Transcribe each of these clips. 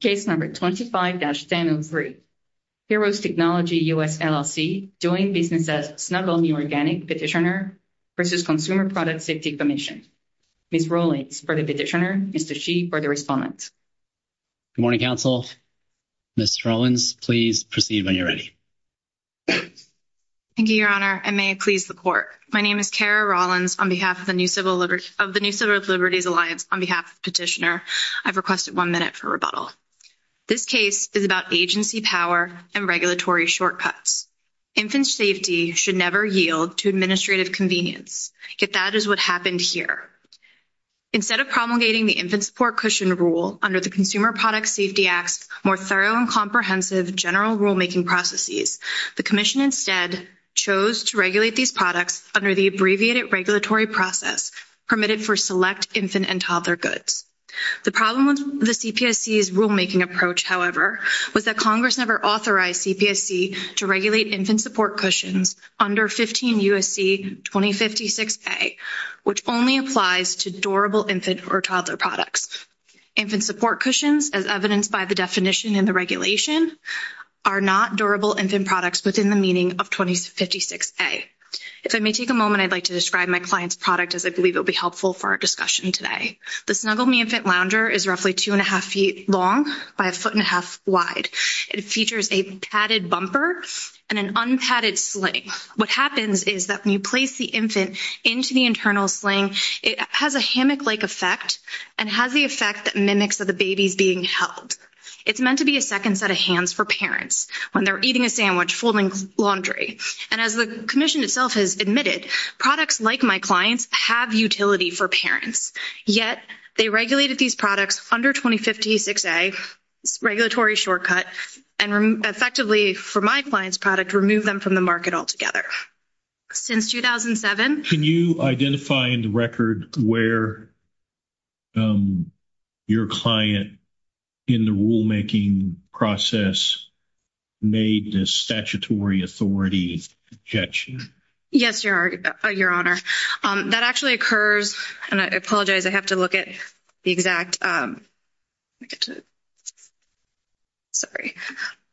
Case No. 25-1003 Heroes Technology US LLC doing business as Snuggle Me Organic Petitioner v. Consumer Product Safety Commission Ms. Rawlings for the Petitioner, Mr. Shi for the Respondent Good morning, Council. Ms. Rawlings, please proceed when you're ready. Thank you, Your Honor. And may it please the Court. My name is Kara Rawlings of the New Civil Liberties Alliance on behalf of the Petitioner. I've requested one minute for rebuttal. This case is about agency power and regulatory shortcuts. Infant safety should never yield to administrative convenience, yet that is what happened here. Instead of promulgating the infant support cushion rule under the Consumer Product Safety Act's more thorough and comprehensive general rulemaking processes, the Commission instead chose to regulate these products under the abbreviated regulatory process permitted for select infant and toddler goods. The problem with the CPSC's rulemaking approach, however, was that Congress never authorized CPSC to regulate infant support cushions under 15 U.S.C. 2056a, which only applies to durable infant or toddler products. Infant support cushions, as evidenced by the definition in the regulation, are not durable infant products within the meaning of 2056a. If I may take a moment, I'd like to describe my client's product, as I believe it will be helpful for our discussion today. The Snuggle Me Infant Lounger is roughly two and a half feet long by a foot and a half wide. It features a padded bumper and an unpadded sling. What happens is that when you place the infant into the internal sling, it has a hammock-like effect and has the effect that mimics that the baby's being held. It's meant to be a second set of hands for parents when they're eating a sandwich, folding laundry. And as the Commission itself has admitted, products like my client's have utility for parents. Yet, they regulated these products under 2056a, regulatory shortcut, and effectively, for my client's product, removed them from the market altogether. Since 2007... Can you identify in the record where your client in the rulemaking process made this statutory authority objection? Yes, Your Honor. That actually occurs, and I apologize, I have to look at the exact... Sorry.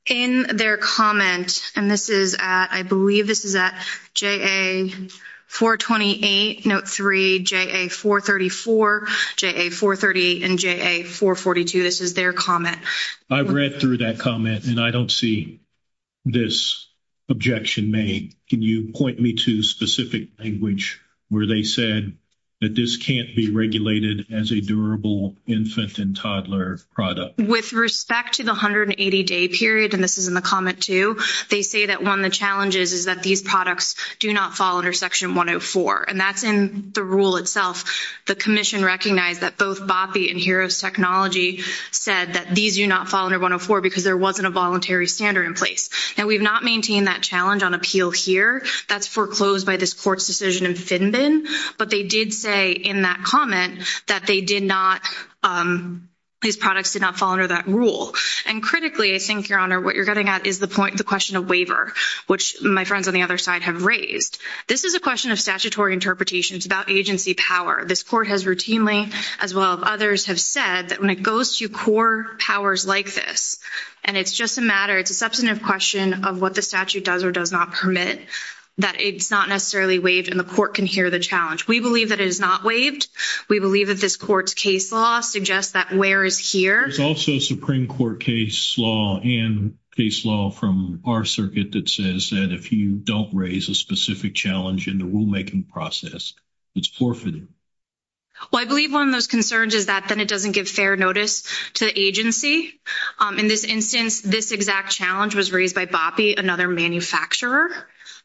In their comment, and this is at, I believe this is at JA-428, Note 3, JA-434, JA-438, and JA-442. This is their comment. I read through that comment, and I don't see this objection made. Can you point me to specific language where they said that this can't be regulated as a durable infant and toddler product? With respect to the 180-day period, and this is in the comment too, they say that one of the challenges is that these products do not fall under Section 104. And that's in the rule itself. The Commission recognized that both BAPI and Heroes Technology said that these do not fall under 104 because there wasn't a voluntary standard in place. Now, we've not maintained that challenge on appeal here. That's foreclosed by this Court's decision in FinBIN, but they did say in that comment that these products did not fall under that rule. And critically, I think, Your Honor, what you're getting at is the question of waiver, which my friends on the other side have raised. This is a question of statutory interpretations about agency power. This Court has routinely, as well as others, have said that when it goes to core powers like this, and it's just a matter... It's a substantive question of what the statute does or does not permit, that it's not necessarily waived and the Court can hear the challenge. We believe that it is not waived. We believe that this Court's case law suggests that where is here. There's also a Supreme Court case law and case law from our circuit that says that if you don't raise a specific challenge in the rulemaking process, it's forfeited. Well, I believe one of those concerns is that then it doesn't give fair notice to the agency. In this instance, this exact challenge was raised by Boppe, another manufacturer,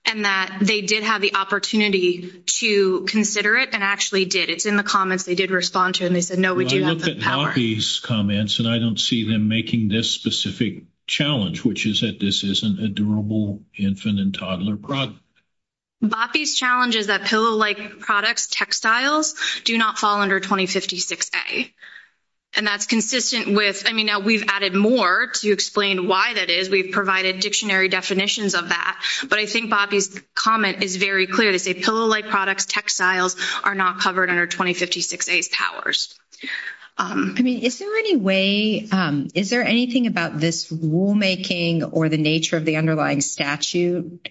and that they did have the opportunity to consider it and actually did. It's in the comments they did respond to, and they said, no, we do have the power. I look at Boppe's comments, and I don't see them making this specific challenge, which is that this isn't a durable infant and toddler product. Boppe's challenge is that pillow-like products, textiles, do not fall under 2056A. And that's consistent with, I mean, now we've added more to explain why that is. We've provided dictionary definitions of that, but I think Boppe's comment is very clear. They say pillow-like products, textiles, are not covered under 2056A's powers. I mean, is there any way, is there anything about this rulemaking or the nature of the underlying statute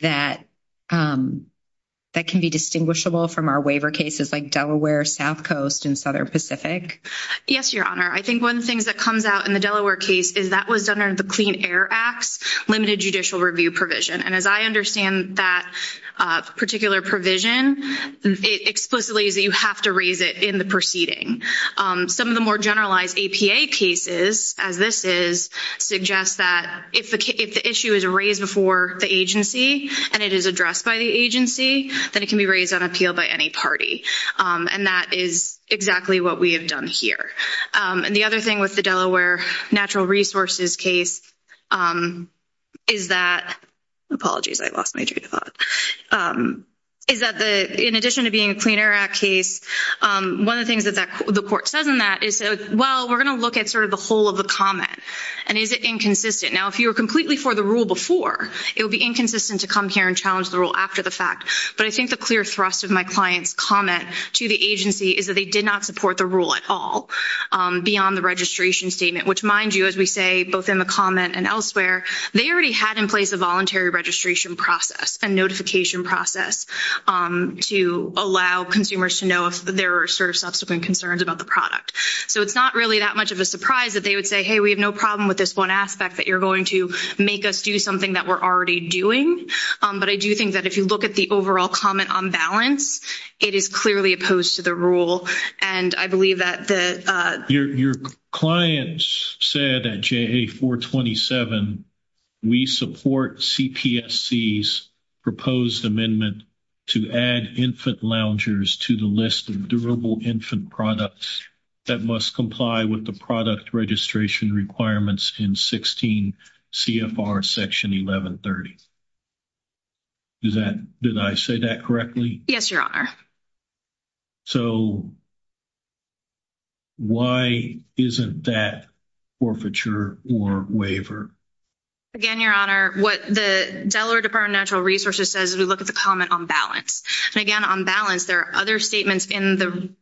that can be distinguishable from our waiver cases like Delaware, South Coast, and Southern Pacific? Yes, Your Honor. I think one of the things that comes out in the Delaware case is that was under the Clean Air Act's limited judicial review provision. And as I understand that particular provision, it explicitly is that you have to raise it in the proceeding. Some of the more generalized APA cases, as this is, suggest that if the issue is raised before the agency and it is addressed by the agency, then it can be raised on appeal by any party. And that is exactly what we have done here. And the other thing with the Delaware Natural Resources case is that, apologies, I lost my train of thought, is that in addition to being a Clean Air Act case, one of the things that the court says in that is, well, we're going to look at sort of the whole of the comment. And is it inconsistent? Now, if you were completely for the rule before, it would be inconsistent to come here and challenge the rule after the fact. But I think the clear thrust of my client's comment to the agency is that they did not support the rule at all beyond the registration statement, which, mind you, as we say both in the comment and elsewhere, they already had in place a voluntary registration process and notification process to allow consumers to know if there are sort of subsequent concerns about the product. So it's not really that much of a surprise that they would say, hey, we have no problem with this one aspect, that you're going to make us do something that we're already doing. But I do think that if you look at the overall comment on balance, it is clearly opposed to the rule. And I believe that the — Your client said at JA-427, we support CPSC's proposed amendment to add infant loungers to the list of durable infant products that must comply with the product registration requirements in 16 CFR Section 1130. Did I say that correctly? Yes, Your Honor. So why isn't that forfeiture or waiver? Again, Your Honor, what the Delaware Department of Natural Resources says is we look at the comment on balance. And again, on balance, there are other statements in the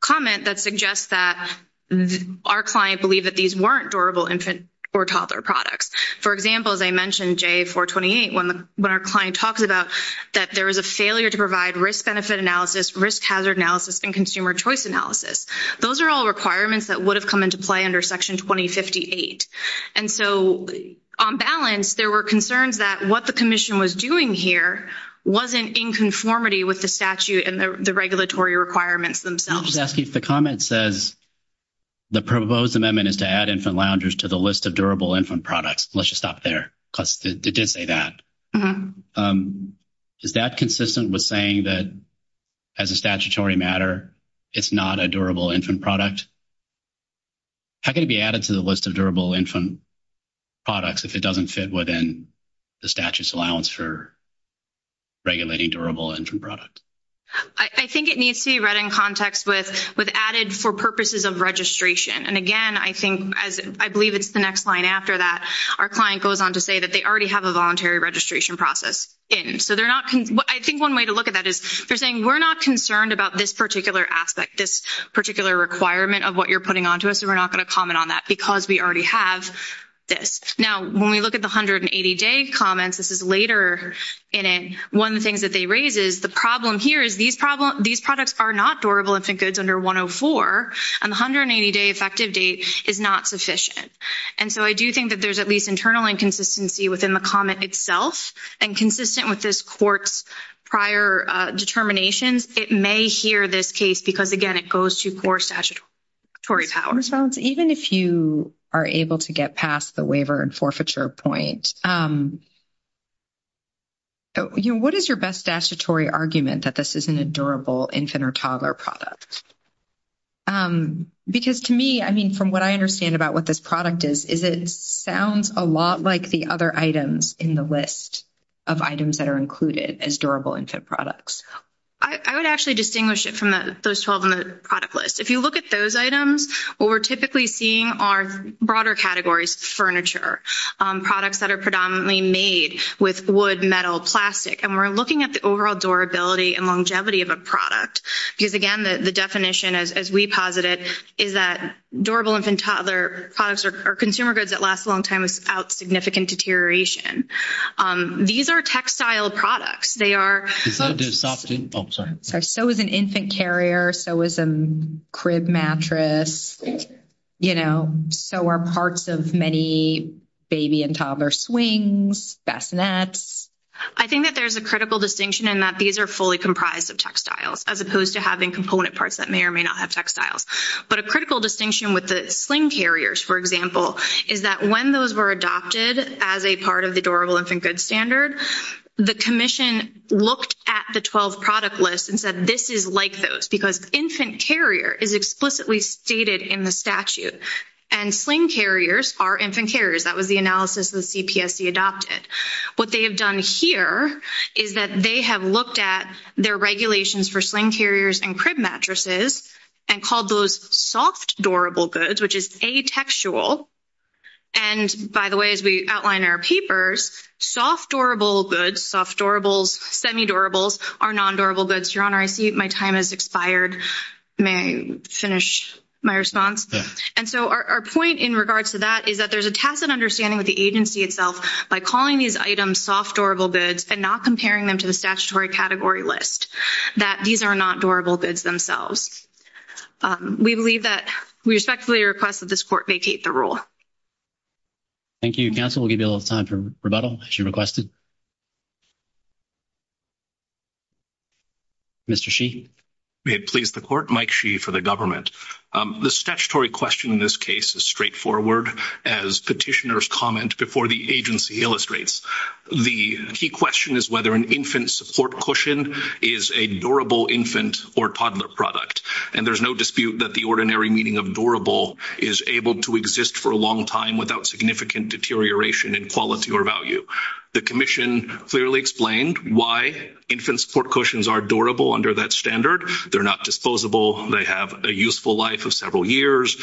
comment that suggest that our client believed that these weren't durable infant or toddler products. For example, as I mentioned, JA-428, when our client talks about that there was a failure to provide risk-benefit analysis, risk-hazard analysis, and consumer choice analysis. Those are all requirements that would have come into play under Section 2058. And so on balance, there were concerns that what the commission was doing here wasn't in conformity with the statute and the regulatory requirements themselves. I was asking if the comment says the proposed amendment is to add infant loungers to the list of durable infant products. Let's just stop there because it did say that. Is that consistent with saying that as a statutory matter, it's not a durable infant product? How can it be added to the list of durable infant products if it doesn't fit within the statute's allowance for regulating durable infant products? I think it needs to be read in context with added for purposes of registration. And again, I believe it's the next line after that. Our client goes on to say that they already have a voluntary registration process in. I think one way to look at that is they're saying we're not concerned about this particular aspect, this particular requirement of what you're putting onto us, and we're not going to comment on that because we already have this. Now, when we look at the 180-day comments, this is later in it, one of the things that they raise is the problem here is these products are not durable infant goods under 104, and the 180-day effective date is not sufficient. And so I do think that there's at least internal inconsistency within the comment itself, and consistent with this court's prior determinations, it may hear this case because, again, it goes to poor statutory power. Ms. Valenzuela, even if you are able to get past the waiver and forfeiture point, what is your best statutory argument that this isn't a durable infant or toddler product? Because to me, I mean, from what I understand about what this product is, is it sounds a lot like the other items in the list of items that are included as durable infant products. I would actually distinguish it from those 12 in the product list. If you look at those items, what we're typically seeing are broader categories, furniture, products that are predominantly made with wood, metal, plastic, and we're looking at the overall durability and longevity of a product because, again, the definition, as we posited, is that durable infant-toddler products or consumer goods that last a long time without significant deterioration. These are textile products. They are – Is that a soft – oh, sorry. So is an infant carrier. So is a crib mattress, you know. So are parts of many baby and toddler swings, bassinets. I think that there's a critical distinction in that these are fully comprised of textiles as opposed to having component parts that may or may not have textiles. But a critical distinction with the sling carriers, for example, is that when those were adopted as a part of the durable infant goods standard, the commission looked at the 12 product lists and said this is like those because infant carrier is explicitly stated in the statute, and sling carriers are infant carriers. That was the analysis the CPSC adopted. What they have done here is that they have looked at their regulations for sling carriers and crib mattresses and called those soft durable goods, which is atextual. And, by the way, as we outline in our papers, soft durable goods, soft durables, semi-durables are non-durable goods. Your Honor, I see my time has expired. May I finish my response? Yeah. And so our point in regards to that is that there's a tacit understanding with the agency itself by calling these items soft durable goods and not comparing them to the statutory category list, that these are not durable goods themselves. We believe that we respectfully request that this Court vacate the rule. Thank you, counsel. We'll give you a little time for rebuttal, as you requested. Mr. Sheehy. May it please the Court, Mike Sheehy for the government. The statutory question in this case is straightforward. As petitioners comment before the agency illustrates, the key question is whether an infant support cushion is a durable infant or toddler product. And there's no dispute that the ordinary meaning of durable is able to exist for a long time without significant deterioration in quality or value. The Commission clearly explained why infant support cushions are durable under that standard. They're not disposable. They have a useful life of several years.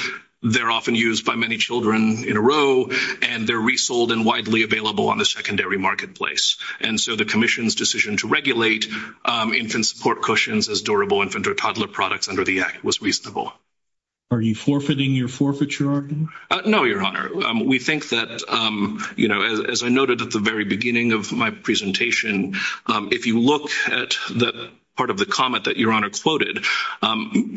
They're often used by many children in a row, and they're resold and widely available on the secondary marketplace. And so the Commission's decision to regulate infant support cushions as durable infant or toddler products under the Act was reasonable. Are you forfeiting your forfeit, Your Honor? No, Your Honor. We think that, you know, as I noted at the very beginning of my presentation, if you look at that part of the comment that Your Honor quoted,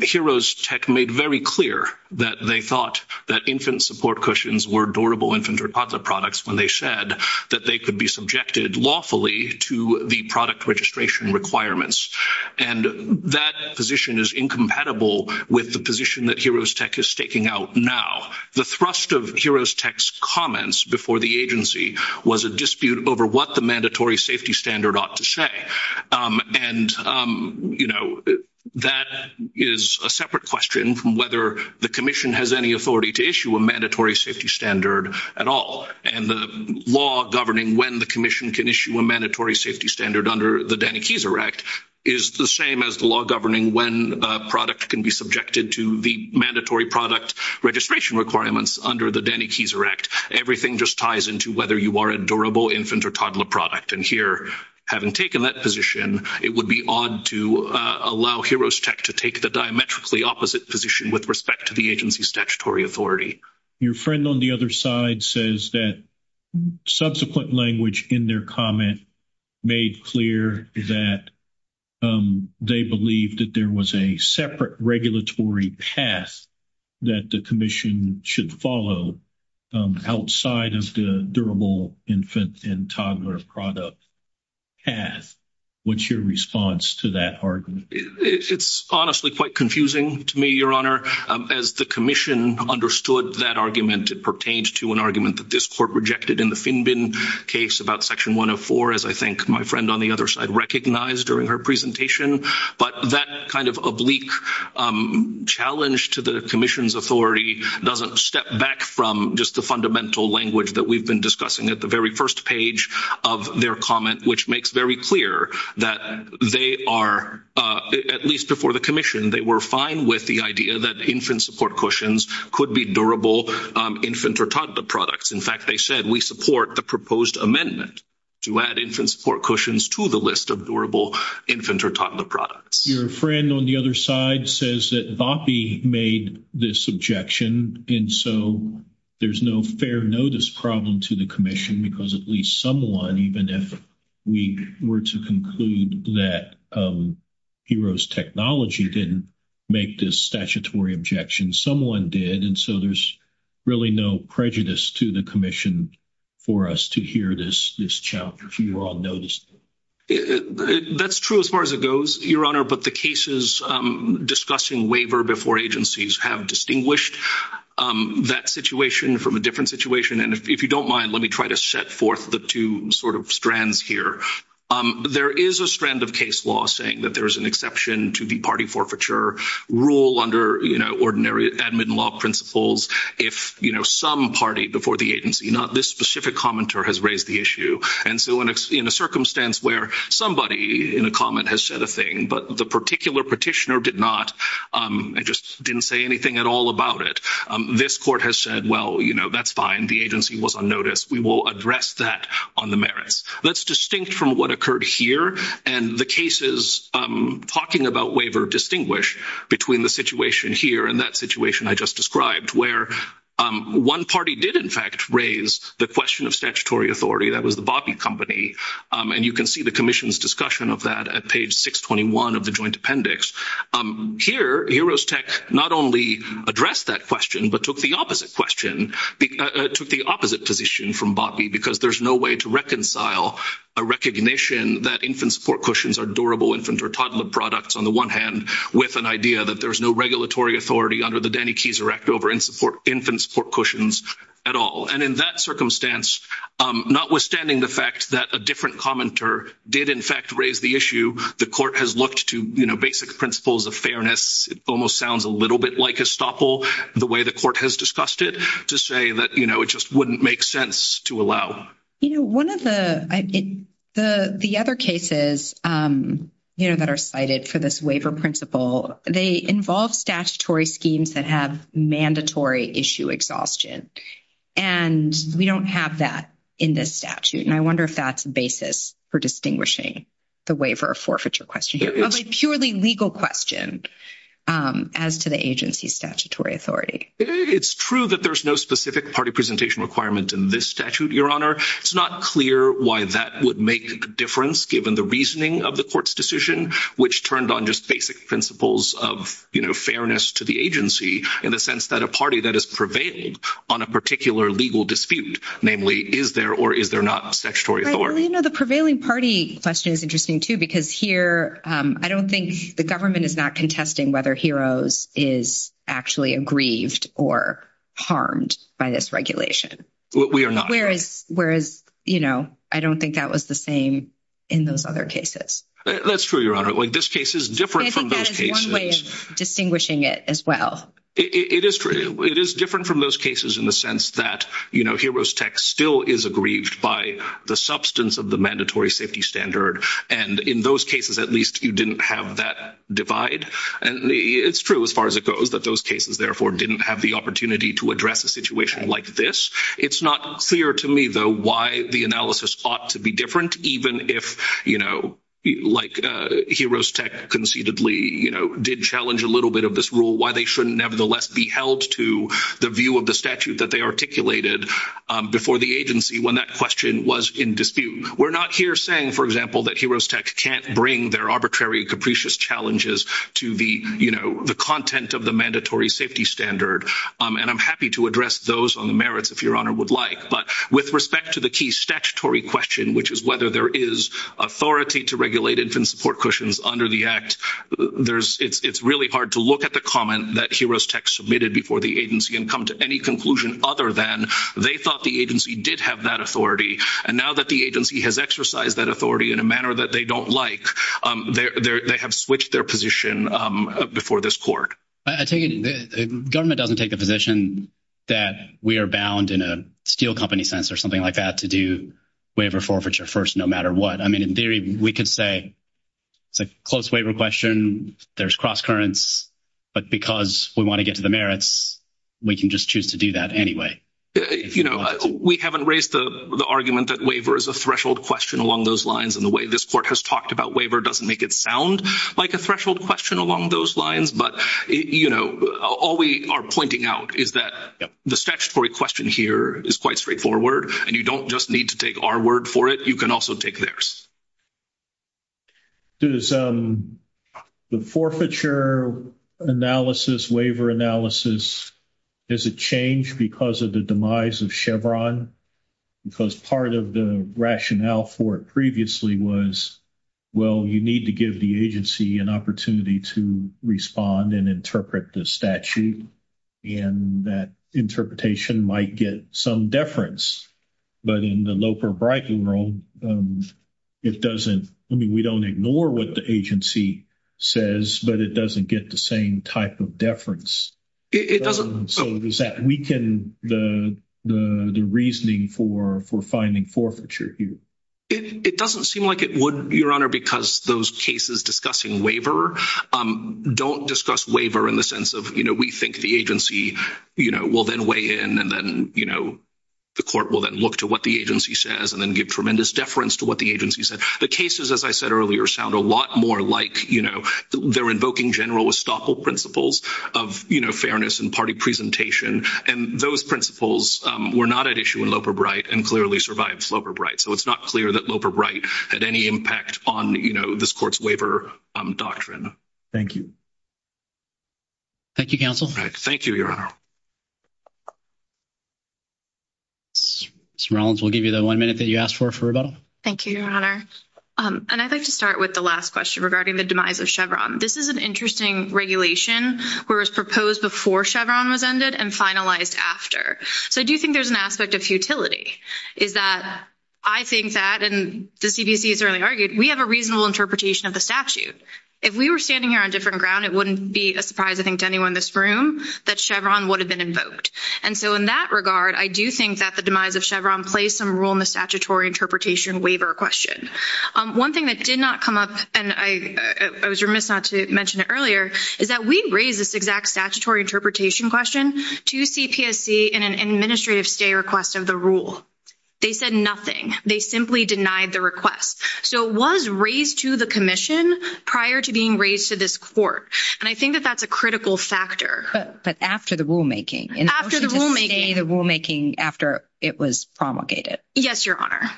Heroes Tech made very clear that they thought that infant support cushions were durable infant or toddler products when they said that they could be subjected lawfully to the product registration requirements. And that position is incompatible with the position that Heroes Tech is staking out now. The thrust of Heroes Tech's comments before the agency was a dispute over what the mandatory safety standard ought to say. And, you know, that is a separate question from whether the Commission has any authority to issue a mandatory safety standard at all. And the law governing when the Commission can issue a mandatory safety standard under the Danny Keyser Act is the same as the law governing when a product can be subjected to the mandatory product registration requirements under the Danny Keyser Act. Everything just ties into whether you are a durable infant or toddler product. And here, having taken that position, it would be odd to allow Heroes Tech to take the diametrically opposite position with respect to the agency's statutory authority. Your friend on the other side says that subsequent language in their comment made clear that they believed that there was a separate regulatory path that the Commission should follow outside of the durable infant and toddler product path. What's your response to that argument? It's honestly quite confusing to me, Your Honor. As the Commission understood that argument, it pertains to an argument that this Court rejected in the Finbin case about Section 104, as I think my friend on the other side recognized during her presentation. But that kind of oblique challenge to the Commission's authority doesn't step back from just the fundamental language that we've been discussing at the very first page of their comment, which makes very clear that they are, at least before the Commission, they were fine with the idea that infant support cushions could be durable infant or toddler products. In fact, they said, we support the proposed amendment to add infant support cushions to the list of durable infant or toddler products. Your friend on the other side says that VOPI made this objection, and so there's no fair notice problem to the Commission because at least someone, even if we were to conclude that Heroes Technology didn't make this statutory objection, someone did. And so there's really no prejudice to the Commission for us to hear this challenge. We were all noticed. That's true as far as it goes, Your Honor, but the cases discussing waiver before agencies have distinguished that situation from a different situation. And if you don't mind, let me try to set forth the two sort of strands here. There is a strand of case law saying that there is an exception to the party forfeiture rule under ordinary admin law principles if some party before the agency, not this specific commenter, has raised the issue. And so in a circumstance where somebody in a comment has said a thing, but the particular petitioner did not and just didn't say anything at all about it, this court has said, well, you know, that's fine. The agency was unnoticed. We will address that on the merits. That's distinct from what occurred here and the cases talking about waiver distinguish between the situation here and that situation I just described where one party did, in fact, raise the question of statutory authority. That was the VOPI company, and you can see the Commission's discussion of that at page 621 of the joint appendix. Here, Heroes Tech not only addressed that question but took the opposite position from VOPI because there's no way to reconcile a recognition that infant support cushions are durable infant or toddler products on the one hand with an idea that there's no regulatory authority under the Danny Keyser Act over infant support cushions at all. And in that circumstance, notwithstanding the fact that a different commenter did, in fact, raise the issue, the court has looked to, you know, basic principles of fairness. It almost sounds a little bit like a estoppel the way the court has discussed it to say that, you know, it just wouldn't make sense to allow. You know, one of the other cases, you know, that are cited for this waiver principle, they involve statutory schemes that have mandatory issue exhaustion, and we don't have that in this statute. And I wonder if that's a basis for distinguishing the waiver forfeiture question of a purely legal question as to the agency's statutory authority. It's true that there's no specific party presentation requirement in this statute, Your Honor. It's not clear why that would make a difference given the reasoning of the court's decision, which turned on just basic principles of, you know, fairness to the agency in the sense that a party that has prevailed on a particular legal dispute, namely, is there or is there not a statutory authority? Well, you know, the prevailing party question is interesting, too, because here I don't think the government is not contesting whether HEROES is actually aggrieved or harmed by this regulation. We are not. Whereas, you know, I don't think that was the same in those other cases. That's true, Your Honor. Like, this case is different from those cases. I think that is one way of distinguishing it as well. It is true. It is different from those cases in the sense that, you know, HEROES Tech still is aggrieved by the substance of the mandatory safety standard. And in those cases, at least, you didn't have that divide. And it's true, as far as it goes, that those cases, therefore, didn't have the opportunity to address a situation like this. It's not clear to me, though, why the analysis ought to be different, even if, you know, like HEROES Tech conceitedly, you know, did challenge a little bit of this rule, why they shouldn't, nevertheless, be held to the view of the statute that they articulated before the agency when that question was in dispute. We're not here saying, for example, that HEROES Tech can't bring their arbitrary, capricious challenges to the, you know, the content of the mandatory safety standard. And I'm happy to address those on the merits, if Your Honor would like. But with respect to the key statutory question, which is whether there is authority to regulate infant support cushions under the Act, it's really hard to look at the comment that HEROES Tech submitted before the agency and come to any conclusion other than they thought the agency did have that authority. And now that the agency has exercised that authority in a manner that they don't like, they have switched their position before this court. I take it the government doesn't take the position that we are bound, in a steel company sense or something like that, to do waiver forfeiture first, no matter what. I mean, in theory, we could say it's a close waiver question, there's no cross-currents, but because we want to get to the merits, we can just choose to do that anyway. You know, we haven't raised the argument that waiver is a threshold question along those lines, and the way this court has talked about waiver doesn't make it sound like a threshold question along those lines. But, you know, all we are pointing out is that the statutory question here is quite straightforward, and you don't just need to take our word for it, you can also take theirs. Does the forfeiture analysis, waiver analysis, has it changed because of the demise of Chevron? Because part of the rationale for it previously was, well, you need to give the agency an opportunity to respond and interpret the statute, and that interpretation might get some deference. But in the Loper-Briden rule, it doesn't, I mean, we don't ignore what the agency says, but it doesn't get the same type of deference. So does that weaken the reasoning for finding forfeiture here? It doesn't seem like it would, Your Honor, because those cases discussing waiver don't discuss waiver in the sense of, you know, we think the agency, you know, will then weigh in and then, you know, the court will then look to what the agency says and then give tremendous deference to what the agency said. The cases, as I said earlier, sound a lot more like, you know, they're invoking general estoppel principles of, you know, fairness and party presentation, and those principles were not at issue in Loper-Briden and clearly survived Loper-Briden. So it's not clear that Loper-Briden had any impact on, you know, this court's waiver doctrine. Thank you. Thank you, counsel. Thank you, Your Honor. Ms. Rollins, we'll give you the one minute that you asked for for rebuttal. Thank you, Your Honor. And I'd like to start with the last question regarding the demise of Chevron. This is an interesting regulation where it was proposed before Chevron was ended and finalized after. So I do think there's an aspect of futility, is that I think that, and the CDC has already argued, we have a reasonable interpretation of the statute. If we were standing here on different ground, it wouldn't be a surprise, I assume, that Chevron would have been invoked. And so in that regard, I do think that the demise of Chevron plays some role in the statutory interpretation waiver question. One thing that did not come up, and I was remiss not to mention it earlier, is that we raised this exact statutory interpretation question to CPSC in an administrative stay request of the rule. They said nothing. They simply denied the request. So it was raised to the commission prior to being raised to this court, and I know that's not true, but after the rulemaking? After the rulemaking. In the motion to stay the rulemaking after it was promulgated. Yes, Your Honor.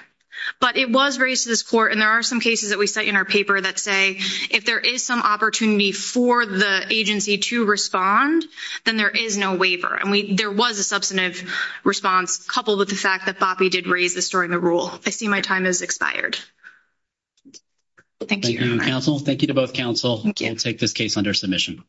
But it was raised to this court, and there are some cases that we cite in our paper that say if there is some opportunity for the agency to respond, then there is no waiver. And there was a substantive response coupled with the fact that Boppe did raise this during the rule. I see my time has expired. Thank you, Your Honor. Thank you, counsel. Thank you to both counsel. Thank you. We'll take this case under submission.